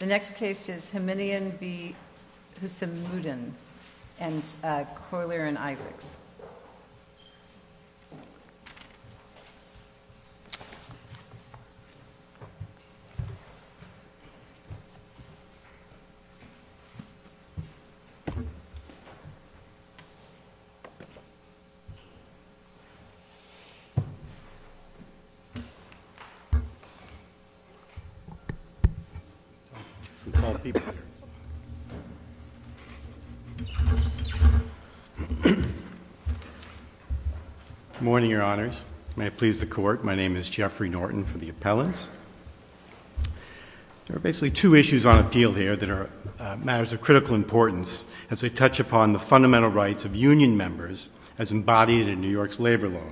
The next case is Hominian v. Hussamuddin and Coyler and Isaacs. Good morning, Your Honors. May it please the Court, my name is Jeffrey Norton for the appellants. There are basically two issues on appeal here that are matters of critical importance as they touch upon the fundamental rights of union members as embodied in New York's labor law.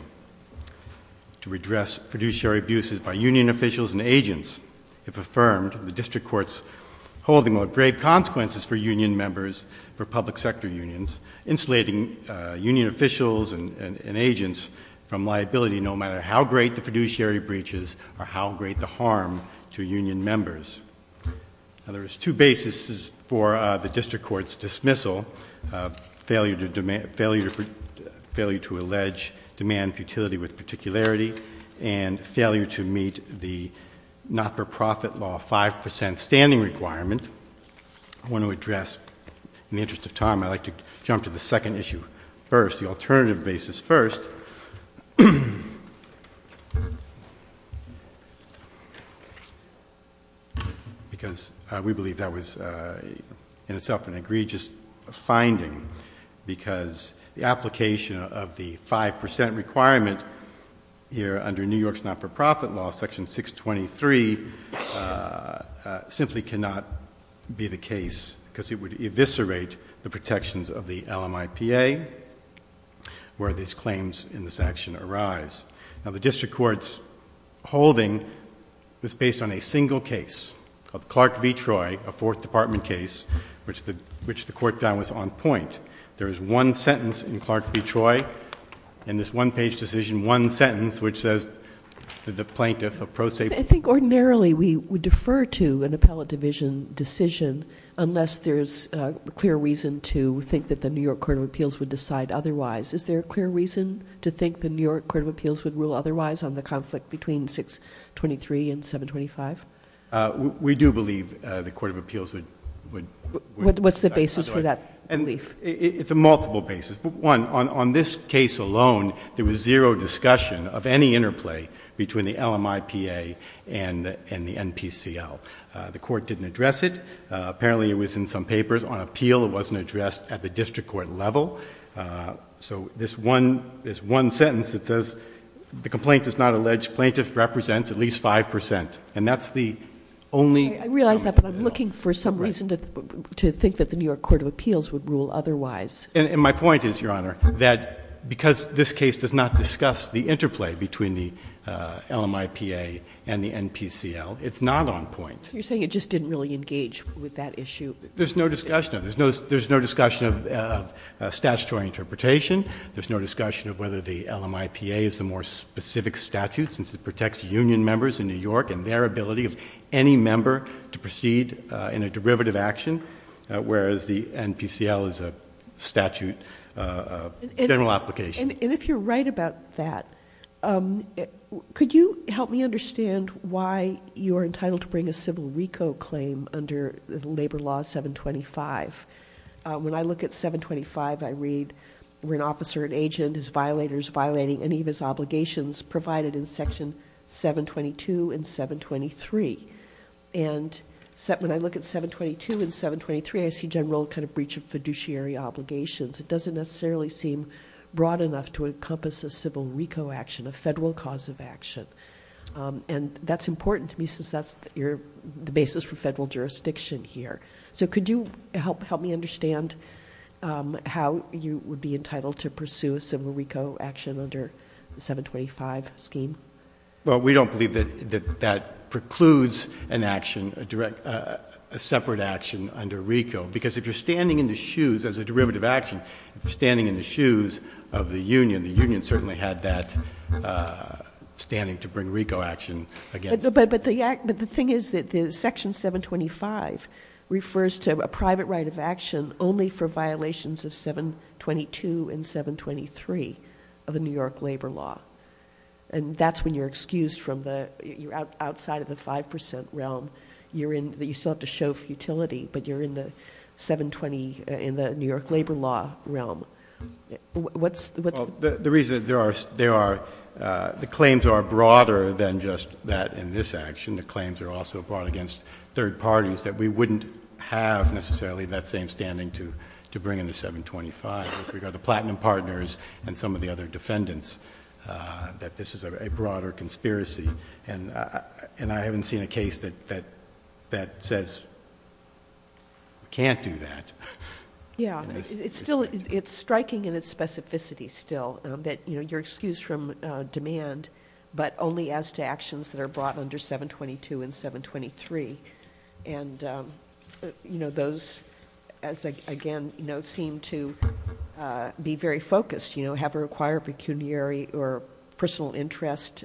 To redress fiduciary abuses by union officials and agents, if affirmed, the district court's holding will have grave consequences for union members, for public sector unions, insulating union officials and agents from liability no matter how great the fiduciary breaches or how great the harm to union members. Now, there is two basis for the district court's dismissal, failure to allege demand futility with particularity and failure to meet the not-for-profit law 5% standing requirement. I want to address, in the interest of time, I'd like to jump to the second issue first, the alternative basis first. Because we believe that was in itself an egregious finding because the application of the 5% requirement here under New York's not-for-profit law, section 623, simply cannot be the case because it would eviscerate the protections of the LMIPA where these claims in this action arise. Now, the district court's holding is based on a single case of Clark v. Troy, a fourth department case, which the court found was on point. There is one sentence in Clark v. Troy in this one-page decision, one sentence, which says that the plaintiff, a pro se- I think ordinarily we would defer to an appellate division decision unless there's a clear reason to think that the New York Court of Appeals would decide otherwise. Is there a clear reason to think the New York Court of Appeals would rule otherwise on the conflict between 623 and 725? We do believe the Court of Appeals would- What's the basis for that belief? It's a multiple basis. One, on this case alone, there was zero discussion of any interplay between the LMIPA and the NPCL. The court didn't address it. Apparently, it was in some papers. On appeal, it wasn't addressed at the district court level. So this one sentence, it says, the complaint is not alleged. Plaintiff represents at least 5%. And that's the only- I realize that, but I'm looking for some reason to think that the New York Court of Appeals would rule otherwise. And my point is, Your Honor, that because this case does not discuss the interplay between the LMIPA and the NPCL, it's not on point. You're saying it just didn't really engage with that issue. There's no discussion of it. There's no discussion of statutory interpretation. There's no discussion of whether the LMIPA is the more specific statute, since it protects union members in New York and their ability of any member to proceed in a derivative action, whereas the NPCL is a statute, a general application. And if you're right about that, could you help me understand why you're entitled to bring a civil RICO claim under Labor Law 725? When I look at 725, I read, we're an officer, an agent, as violators violating any of his obligations provided in section 722 and 723. And when I look at 722 and 723, I see general kind of breach of fiduciary obligations. It doesn't necessarily seem broad enough to encompass a civil RICO action, a federal cause of action. And that's important to me, since that's the basis for federal jurisdiction here. So could you help me understand how you would be entitled to pursue a civil RICO action under the 725 scheme? Well, we don't believe that that precludes an action, a separate action under RICO. Because if you're standing in the shoes, as a derivative action, if you're standing in the shoes of the union, the union certainly had that standing to bring RICO action against. But the thing is that section 725 refers to a private right of action only for violations of 722 and 723 of the New York Labor Law. And that's when you're excused from the, you're outside of the 5% realm. You're in, you still have to show futility, but you're in the 720, in the New York Labor Law realm. What's- The reason that there are, the claims are broader than just that in this action. The claims are also brought against third parties that we wouldn't have necessarily that same standing to bring into 725. We've got the platinum partners and some of the other defendants that this is a broader conspiracy. And I haven't seen a case that says we can't do that. Yeah. It's still, it's striking in its specificity still that you're excused from demand, but only as to actions that are brought under 722 and 723. And those, as again, seem to be very focused. You know, have a required pecuniary or personal interest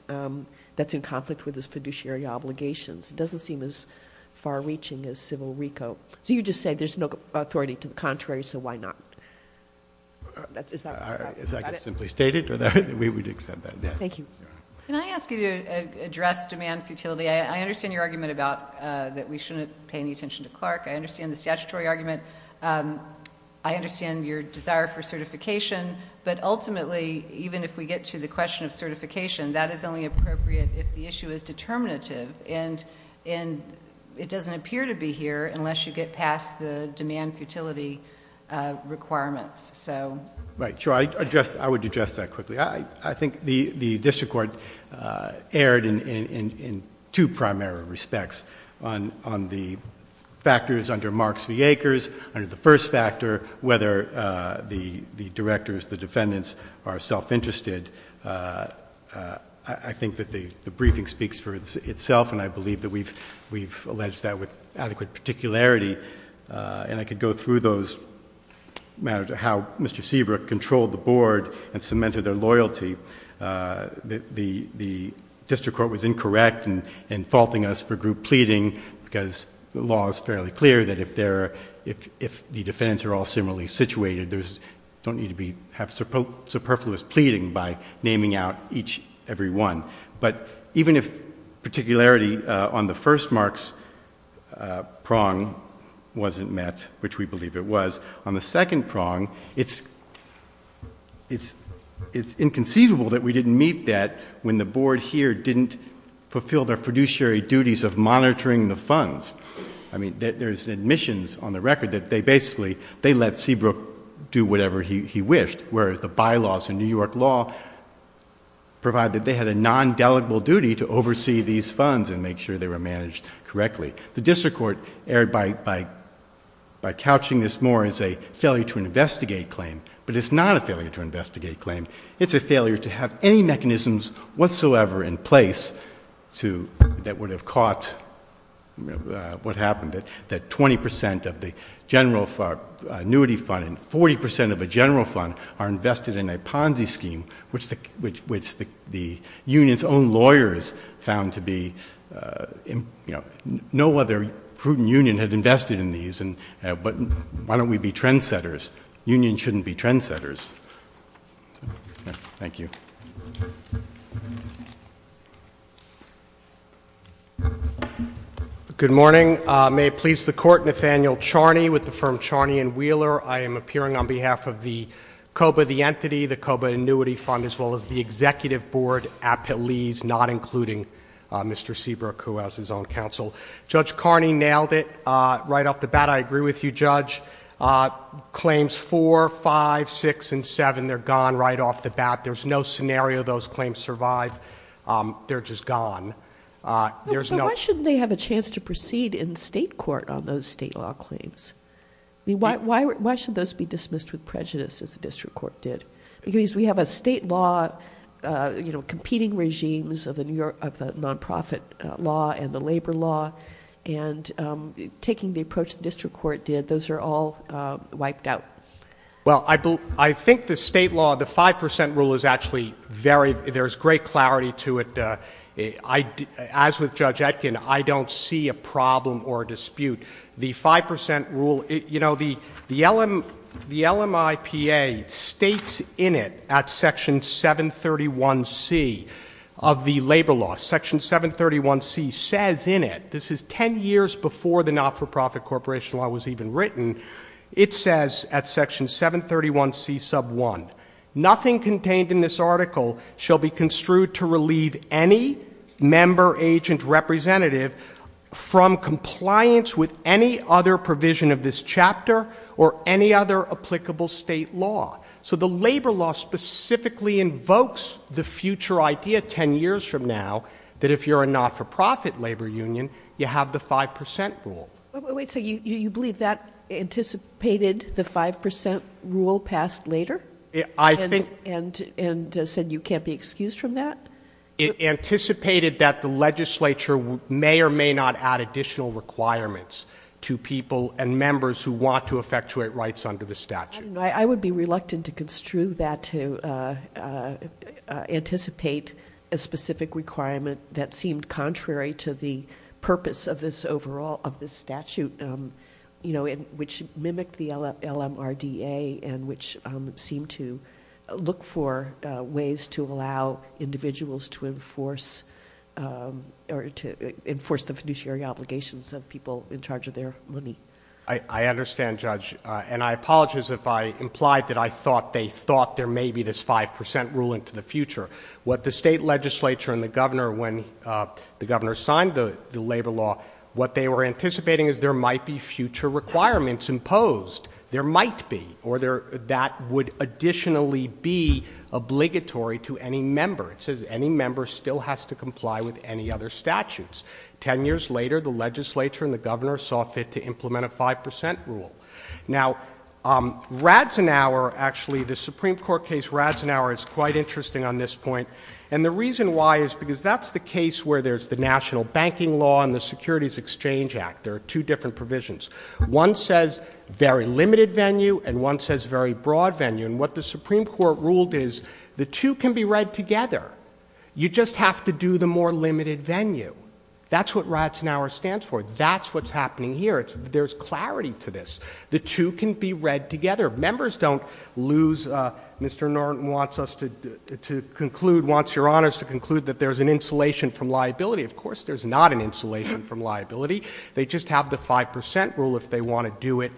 that's in conflict with this fiduciary obligations. It doesn't seem as far reaching as civil RICO. So you just say there's no authority to the contrary, so why not? That's, is that- As I can simply state it, we would accept that, yes. Thank you. Can I ask you to address demand futility? I understand your argument about that we shouldn't pay any attention to Clark. I understand the statutory argument. I understand your desire for certification. But ultimately, even if we get to the question of certification, that is only appropriate if the issue is determinative. And it doesn't appear to be here unless you get past the demand futility requirements. Right. Sure. I would address that quickly. I think the district court erred in two primary respects. On the factors under Marks v. Akers, under the first factor, whether the directors, the defendants, are self-interested. I think that the briefing speaks for itself, and I believe that we've alleged that with adequate particularity. And I could go through those matters of how Mr. Seabrook controlled the board and cemented their loyalty. The district court was incorrect in faulting us for group pleading because the law is fairly clear that if the defendants are all similarly situated, there's, don't need to be, have superfluous pleading by naming out each, every one. But even if particularity on the first Marks prong wasn't met, which we believe it was, on the second prong, it's inconceivable that we didn't meet that when the board here didn't fulfill their fiduciary duties of monitoring the funds. I mean, there's admissions on the record that they basically, they let Seabrook do whatever he wished, whereas the bylaws in New York law provide that they had a non-delegable duty to oversee these funds and make sure they were managed correctly. The district court erred by couching this more as a failure to investigate claim, but it's not a failure to investigate claim. It's a failure to have any mechanisms whatsoever in place to, that would have caught what happened, that 20% of the general annuity fund and 40% of the general fund are invested in a Ponzi scheme, which the union's own lawyers found to be, you know, no other prudent union had invested in these. But why don't we be trendsetters? Unions shouldn't be trendsetters. Thank you. Good morning. May it please the court, Nathaniel Charney with the firm Charney and Wheeler. I am appearing on behalf of the COBA, the entity, the COBA annuity fund, as well as the executive board, appellees, not including Mr. Seabrook, who has his own counsel. Judge Carney nailed it right off the bat. I agree with you, Judge. Claims four, five, six, and seven, they're gone right off the bat. There's no scenario those claims survive. They're just gone. But why shouldn't they have a chance to proceed in state court on those state law claims? I mean, why should those be dismissed with prejudice, as the district court did? Because we have a state law, you know, competing regimes of the nonprofit law and the labor law, and taking the approach the district court did, those are all wiped out. Well, I think the state law, the 5 percent rule is actually very, there's great clarity to it. As with Judge Etkin, I don't see a problem or a dispute. The 5 percent rule, you know, the LMIPA states in it at Section 731C of the labor law, Section 731C says in it, this is ten years before the not-for-profit corporation law was even written, it says at Section 731C sub 1, nothing contained in this article shall be construed to relieve any member, agent, representative from compliance with any other provision of this chapter or any other applicable state law. So the labor law specifically invokes the future idea ten years from now that if you're a not-for-profit labor union, you have the 5 percent rule. Wait, so you believe that anticipated the 5 percent rule passed later? I think. And said you can't be excused from that? It anticipated that the legislature may or may not add additional requirements to people and members who want to effectuate rights under the statute. I would be reluctant to construe that to anticipate a specific requirement that seemed contrary to the purpose of this overall, of this statute, you know, which mimicked the LMRDA and which seemed to look for ways to allow individuals to enforce the fiduciary obligations of people in charge of their money. I understand, Judge, and I apologize if I implied that I thought they thought there may be this 5 percent rule into the future. What the state legislature and the governor, when the governor signed the labor law, what they were anticipating is there might be future requirements imposed. There might be, or that would additionally be obligatory to any member. It says any member still has to comply with any other statutes. Ten years later, the legislature and the governor saw fit to implement a 5 percent rule. Now, Radzenauer, actually, the Supreme Court case Radzenauer is quite interesting on this point. And the reason why is because that's the case where there's the national banking law and the securities exchange act. There are two different provisions. One says very limited venue and one says very broad venue. And what the Supreme Court ruled is the two can be read together. You just have to do the more limited venue. That's what Radzenauer stands for. That's what's happening here. There's clarity to this. The two can be read together. Members don't lose. Mr. Norton wants us to conclude, wants Your Honors to conclude that there's an insulation from liability. Of course there's not an insulation from liability. They just have the 5 percent rule if they want to do it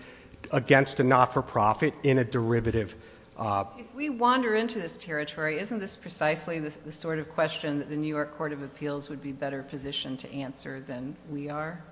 against a not-for-profit in a derivative. If we wander into this territory, isn't this precisely the sort of question that the New York Court of Appeals would be better positioned to answer than we are?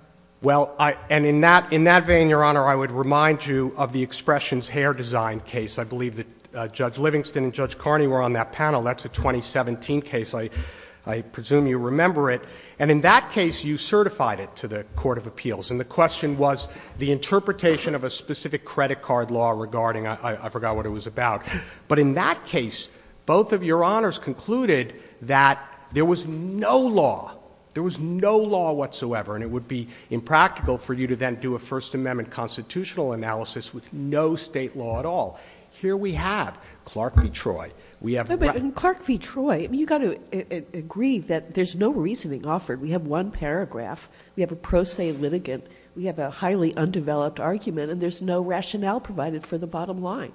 Well, and in that vein, Your Honor, I would remind you of the Expressions Hair Design case. I believe that Judge Livingston and Judge Carney were on that panel. That's a 2017 case. I presume you remember it. And in that case, you certified it to the Court of Appeals. And the question was the interpretation of a specific credit card law regarding, I forgot what it was about. But in that case, both of Your Honors concluded that there was no law, there was no law whatsoever, and it would be impractical for you to then do a First Amendment constitutional analysis with no state law at all. Here we have Clark v. Troy. But in Clark v. Troy, you've got to agree that there's no reasoning offered. We have one paragraph. We have a pro se litigant. We have a highly undeveloped argument. And there's no rationale provided for the bottom line.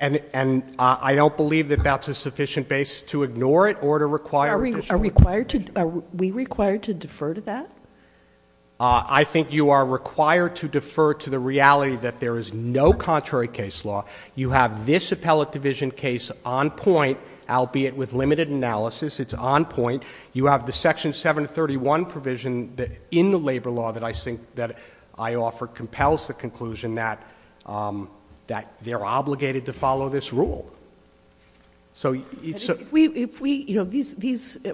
And I don't believe that that's a sufficient base to ignore it or to require additional. Are we required to defer to that? I think you are required to defer to the reality that there is no contrary case law. You have this appellate division case on point, albeit with limited analysis. It's on point. You have the Section 731 provision in the labor law that I think that I offer compels the conclusion that they're obligated to follow this rule. These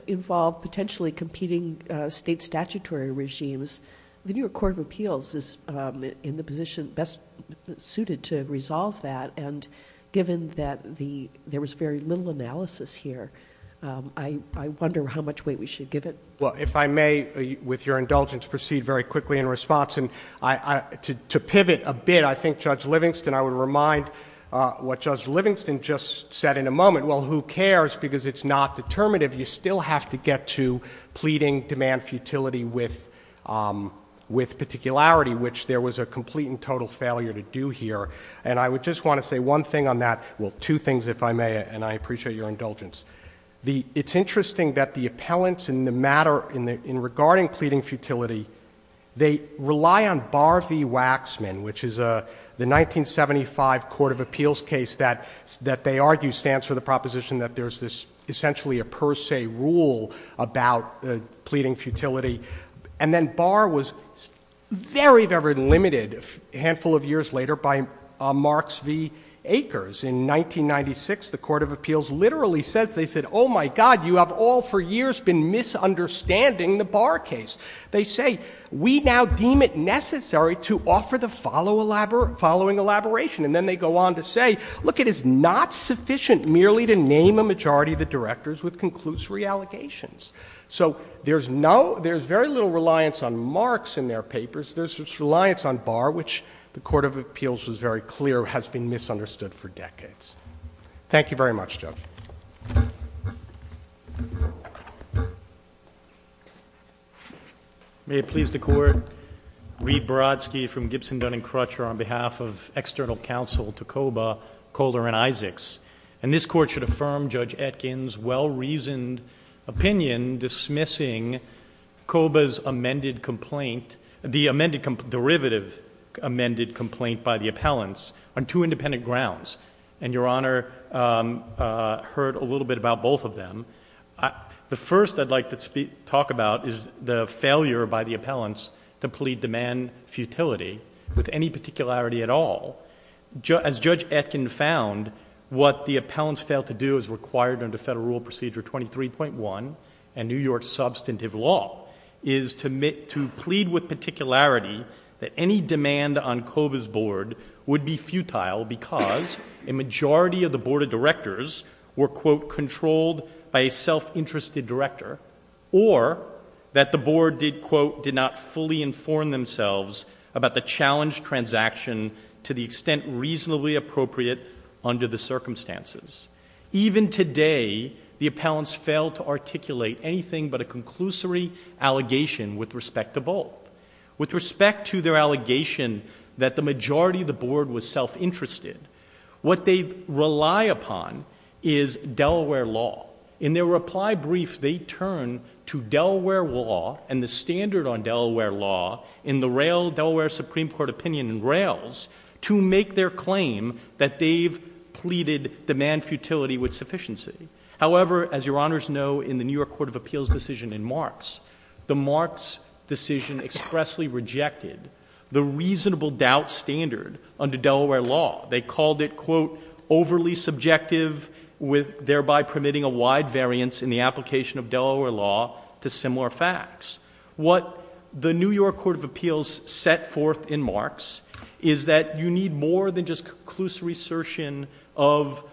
involve potentially competing state statutory regimes. The New York Court of Appeals is in the position best suited to resolve that. And given that there was very little analysis here, I wonder how much weight we should give it. Well, if I may, with your indulgence, proceed very quickly in response. To pivot a bit, I think Judge Livingston, I would remind what Judge Livingston just said in a moment. Well, who cares? Because it's not determinative. You still have to get to pleading demand futility with particularity, which there was a complete and total failure to do here. And I would just want to say one thing on that. Well, two things, if I may, and I appreciate your indulgence. It's interesting that the appellants in the matter regarding pleading futility, they rely on Barr v. Waxman, which is the 1975 Court of Appeals case that they argue stands for the proposition that there's essentially a per se rule about pleading futility. And then Barr was very, very limited a handful of years later by Marks v. Akers. In 1996, the Court of Appeals literally says, they said, oh, my God, you have all for years been misunderstanding the Barr case. They say, we now deem it necessary to offer the following elaboration. And then they go on to say, look, it is not sufficient merely to name a majority of the directors with conclusory allegations. So there's very little reliance on Marks in their papers. There's reliance on Barr, which the Court of Appeals was very clear has been misunderstood for decades. Thank you very much, Judge. May it please the Court. Reed Borodsky from Gibson, Dun and Crutcher on behalf of external counsel to COBA, Calder, and Isaacs. And this court should affirm Judge Etkin's well-reasoned opinion dismissing COBA's amended complaint, the amended derivative amended complaint by the appellants on two independent grounds. And Your Honor heard a little bit about both of them. The first I'd like to talk about is the failure by the appellants to plead demand futility with any particularity at all. As Judge Etkin found, what the appellants failed to do as required under Federal Rule Procedure 23.1 and New York's substantive law is to plead with particularity that any demand on COBA's board would be futile because a majority of the board of directors were, quote, controlled by a self-interested director or that the board did, quote, not fully inform themselves about the challenge transaction to the extent reasonably appropriate under the circumstances. Even today, the appellants failed to articulate anything but a conclusory allegation with respect to both. With respect to their allegation that the majority of the board was self-interested, what they rely upon is Delaware law. In their reply brief, they turn to Delaware law and the standard on Delaware law in the Delaware Supreme Court opinion and rails to make their claim that they've pleaded demand futility with sufficiency. However, as Your Honors know, in the New York Court of Appeals decision in Marx, the Marx decision expressly rejected the reasonable doubt standard under Delaware law. They called it, quote, overly subjective, thereby permitting a wide variance in the application of Delaware law to similar facts. What the New York Court of Appeals set forth in Marx is that you need more than just conclusive assertion of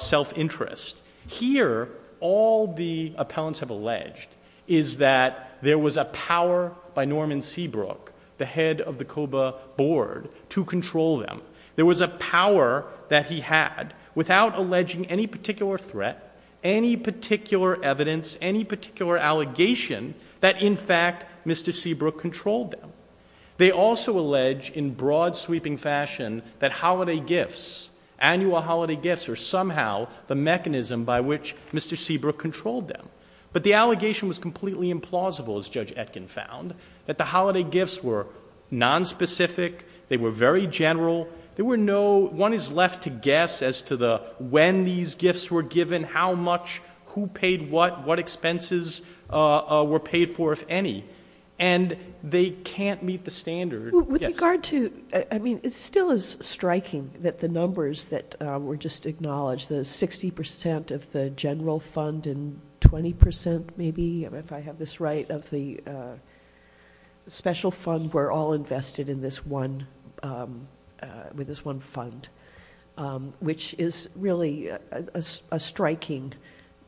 self-interest. Here, all the appellants have alleged is that there was a power by Norman Seabrook, the head of the COBA board, to control them. There was a power that he had without alleging any particular threat, any particular evidence, any particular allegation that in fact Mr. Seabrook controlled them. They also allege in broad sweeping fashion that holiday gifts, annual holiday gifts, are somehow the mechanism by which Mr. Seabrook controlled them. But the allegation was completely implausible, as Judge Etkin found, that the holiday gifts were nonspecific, they were very general, there were no, one is left to guess as to the when these gifts were given, how much, who paid what, what expenses were paid for, if any, and they can't meet the standard. With regard to, I mean, it still is striking that the numbers that were just acknowledged, the 60% of the general fund and 20%, maybe, if I have this right, of the special fund were all invested in this one, with this one fund, which is really a striking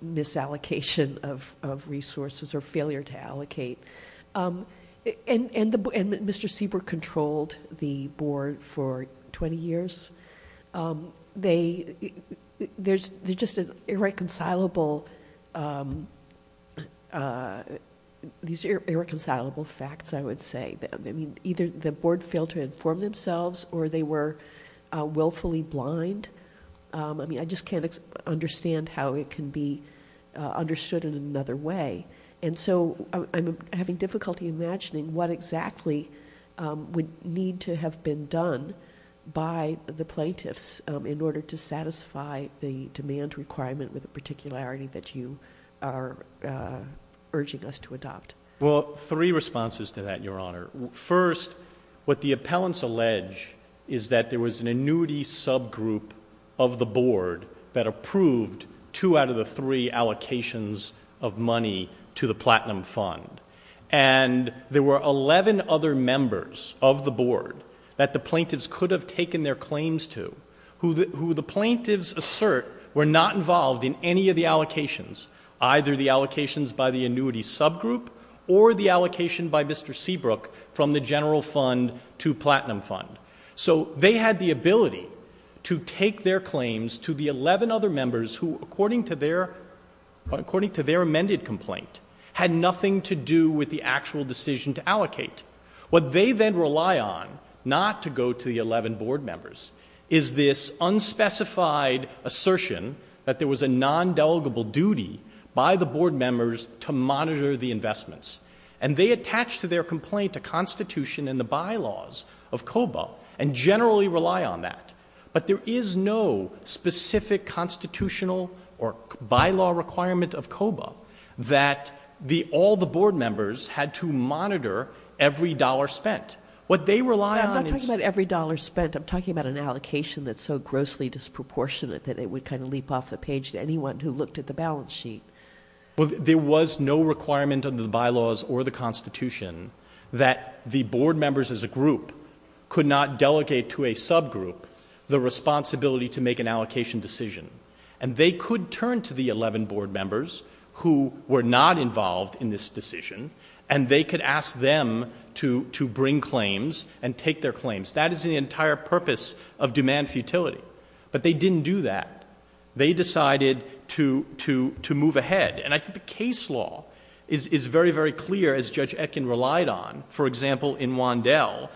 misallocation of resources or failure to allocate. And Mr. Seabrook controlled the Board for 20 years. They, there's just an irreconcilable, these irreconcilable facts, I would say. I mean, either the Board failed to inform themselves or they were willfully blind. I mean, I just can't understand how it can be understood in another way. And so, I'm having difficulty imagining what exactly would need to have been done by the plaintiffs in order to satisfy the demand requirement with the particularity that you are urging us to adopt. Well, three responses to that, Your Honor. First, what the appellants allege is that there was an annuity subgroup of the Board that approved two out of the three allocations of money to the Platinum Fund. And there were 11 other members of the Board that the plaintiffs could have taken their claims to, who the plaintiffs assert were not involved in any of the allocations, either the allocations by the annuity subgroup or the allocation by Mr. Seabrook from the general fund to Platinum Fund. So, they had the ability to take their claims to the 11 other members who, according to their amended complaint, had nothing to do with the actual decision to allocate. What they then rely on, not to go to the 11 Board members, is this unspecified assertion that there was a nondelegable duty by the Board members to monitor the investments. And they attach to their complaint a constitution in the bylaws of COBA and generally rely on that. But there is no specific constitutional or bylaw requirement of COBA that all the Board members had to monitor every dollar spent. What they rely on is... I'm not talking about every dollar spent. I'm talking about an allocation that's so grossly disproportionate that it would kind of leap off the page to anyone who looked at the balance sheet. There was no requirement under the bylaws or the constitution that the Board members as a group could not delegate to a subgroup the responsibility to make an allocation decision. And they could turn to the 11 Board members who were not involved in this decision, and they could ask them to bring claims and take their claims. That is the entire purpose of demand futility. But they didn't do that. They decided to move ahead. And I think the case law is very, very clear, as Judge Etkin relied on. For example, in Wandel,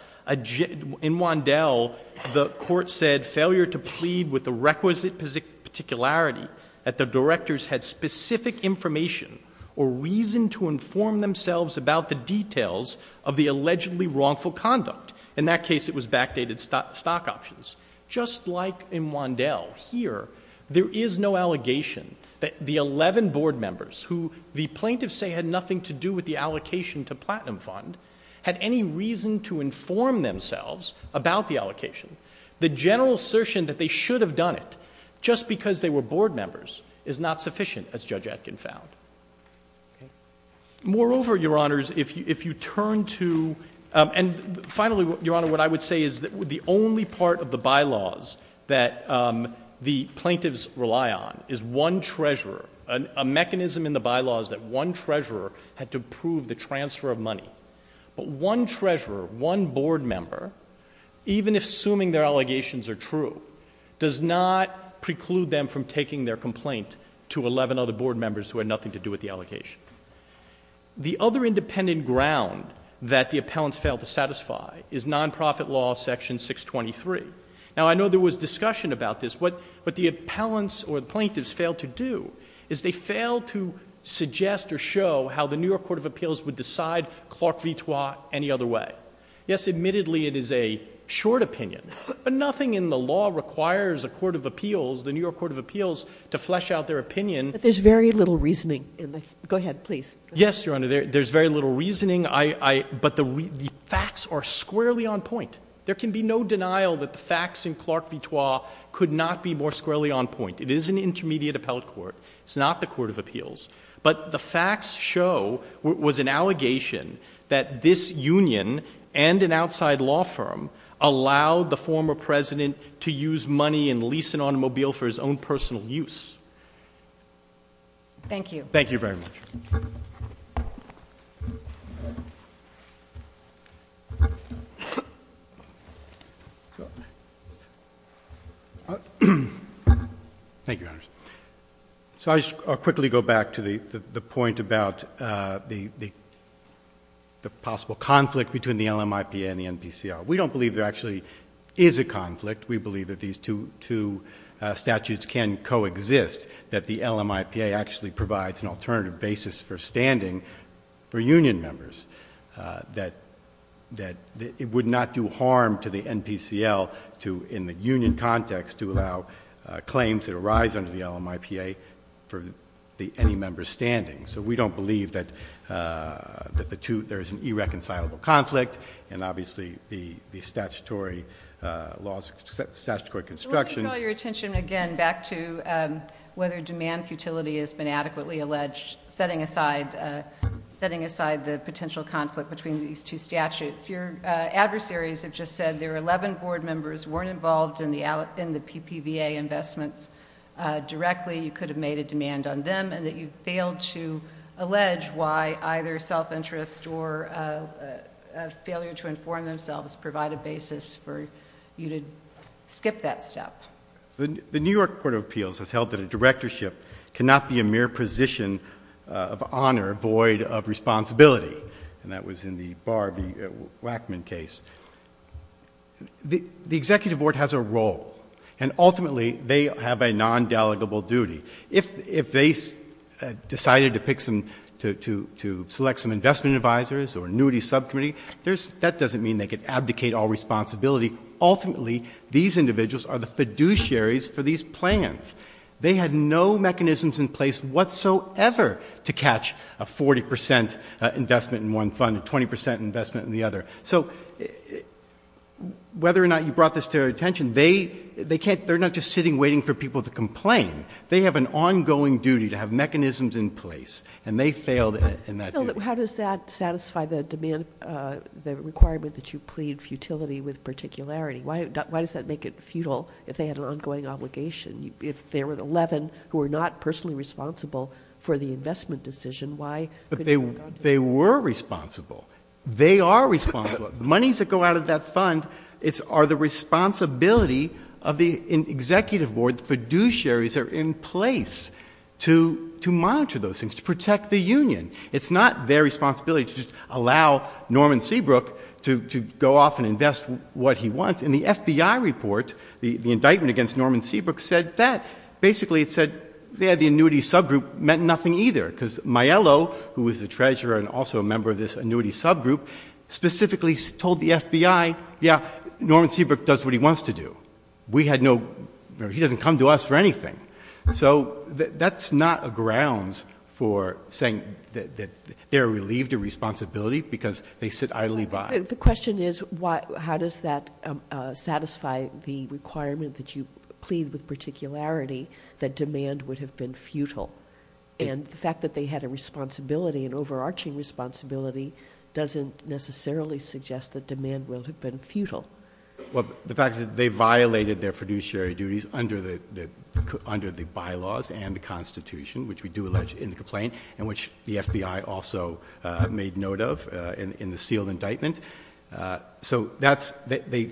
the court said failure to plead with the requisite particularity that the directors had specific information or reason to inform themselves about the details of the allegedly wrongful conduct. In that case, it was backdated stock options. Just like in Wandel here, there is no allegation that the 11 Board members, who the plaintiffs say had nothing to do with the allocation to Platinum Fund, had any reason to inform themselves about the allocation. The general assertion that they should have done it just because they were Board members is not sufficient, as Judge Etkin found. Moreover, Your Honors, if you turn to, and finally, Your Honor, what I would say is that the only part of the bylaws that the plaintiffs rely on is one treasurer. A mechanism in the bylaws that one treasurer had to approve the transfer of money. But one treasurer, one Board member, even assuming their allegations are true, does not preclude them from taking their complaint to 11 other Board members who had nothing to do with the allocation. The other independent ground that the appellants failed to satisfy is non-profit law section 623. Now, I know there was discussion about this. What the appellants or the plaintiffs failed to do is they failed to suggest or show how the New York Court of Appeals would decide Clark v. Trois any other way. Yes, admittedly, it is a short opinion. But nothing in the law requires a court of appeals, the New York Court of Appeals, to flesh out their opinion. But there's very little reasoning. Go ahead, please. Yes, Your Honor, there's very little reasoning. But the facts are squarely on point. There can be no denial that the facts in Clark v. Trois could not be more squarely on point. It is an intermediate appellate court. It's not the court of appeals. But the facts show, was an allegation, that this union and an outside law firm allowed the former president to use money and lease an automobile for his own personal use. Thank you. Thank you very much. Thank you, Your Honor. So I'll quickly go back to the point about the possible conflict between the LMIPA and the NPCL. We don't believe there actually is a conflict. We believe that these two statutes can coexist, that the LMIPA actually provides an alternative basis for standing for union members, that it would not do harm to the NPCL to, in the union context, to allow claims that arise under the LMIPA for any member's standing. So we don't believe that there's an irreconcilable conflict, and obviously the statutory laws, statutory construction. Let me draw your attention again back to whether demand futility has been adequately alleged, setting aside the potential conflict between these two statutes. Your adversaries have just said their 11 board members weren't involved in the PPVA investments directly. You could have made a demand on them, and that you failed to allege why either self-interest or a failure to inform themselves provide a basis for you to skip that step. The New York Court of Appeals has held that a directorship cannot be a mere position of honor void of responsibility, and that was in the Barr v. Wackman case. The executive board has a role, and ultimately they have a non-delegable duty. If they decided to select some investment advisors or a nudity subcommittee, that doesn't mean they could abdicate all responsibility. Ultimately, these individuals are the fiduciaries for these plans. They had no mechanisms in place whatsoever to catch a 40 percent investment in one fund, a 20 percent investment in the other. So whether or not you brought this to their attention, they're not just sitting waiting for people to complain. They have an ongoing duty to have mechanisms in place, and they failed in that duty. Why does that make it futile if they had an ongoing obligation? If there were 11 who were not personally responsible for the investment decision, why could they not? They were responsible. They are responsible. The monies that go out of that fund are the responsibility of the executive board. The fiduciaries are in place to monitor those things, to protect the union. It's not their responsibility to just allow Norman Seabrook to go off and invest what he wants. In the FBI report, the indictment against Norman Seabrook said that. Basically, it said, yeah, the nudity subgroup meant nothing either, because Maiello, who was the treasurer and also a member of this nudity subgroup, specifically told the FBI, yeah, Norman Seabrook does what he wants to do. We had no—he doesn't come to us for anything. So that's not a grounds for saying that they're relieved of responsibility because they sit idly by. The question is, how does that satisfy the requirement that you plead with particularity that demand would have been futile? And the fact that they had a responsibility, an overarching responsibility, doesn't necessarily suggest that demand will have been futile. Well, the fact is they violated their fiduciary duties under the bylaws and the Constitution, which we do allege in the complaint and which the FBI also made note of in the sealed indictment. So that's—they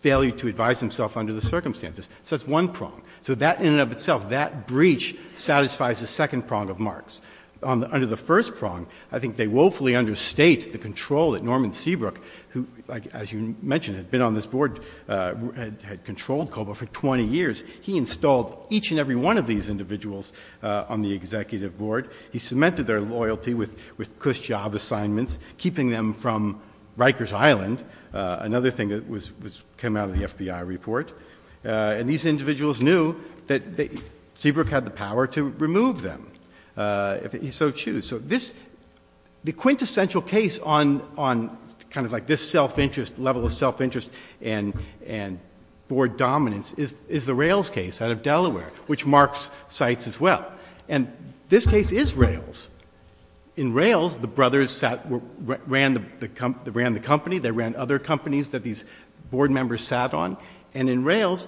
failed to advise themselves under the circumstances. So that's one prong. So that in and of itself, that breach satisfies the second prong of Marx. Under the first prong, I think they woefully understate the control that Norman Seabrook, who, as you mentioned, had been on this board, had controlled COBOL for 20 years. He installed each and every one of these individuals on the executive board. He cemented their loyalty with KUSH job assignments, keeping them from Rikers Island, another thing that came out of the FBI report. And these individuals knew that Seabrook had the power to remove them if he so chose. So this—the quintessential case on kind of like this self-interest, level of self-interest and board dominance is the Rails case out of Delaware, which Marx cites as well. And this case is Rails. In Rails, the brothers ran the company. They ran other companies that these board members sat on. And in Rails,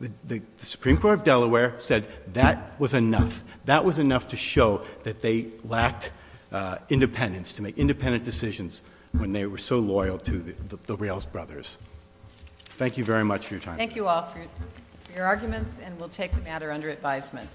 the Supreme Court of Delaware said that was enough. That was enough to show that they lacked independence, to make independent decisions when they were so loyal to the Rails brothers. Thank you very much for your time. Thank you all for your arguments, and we'll take the matter under advisement.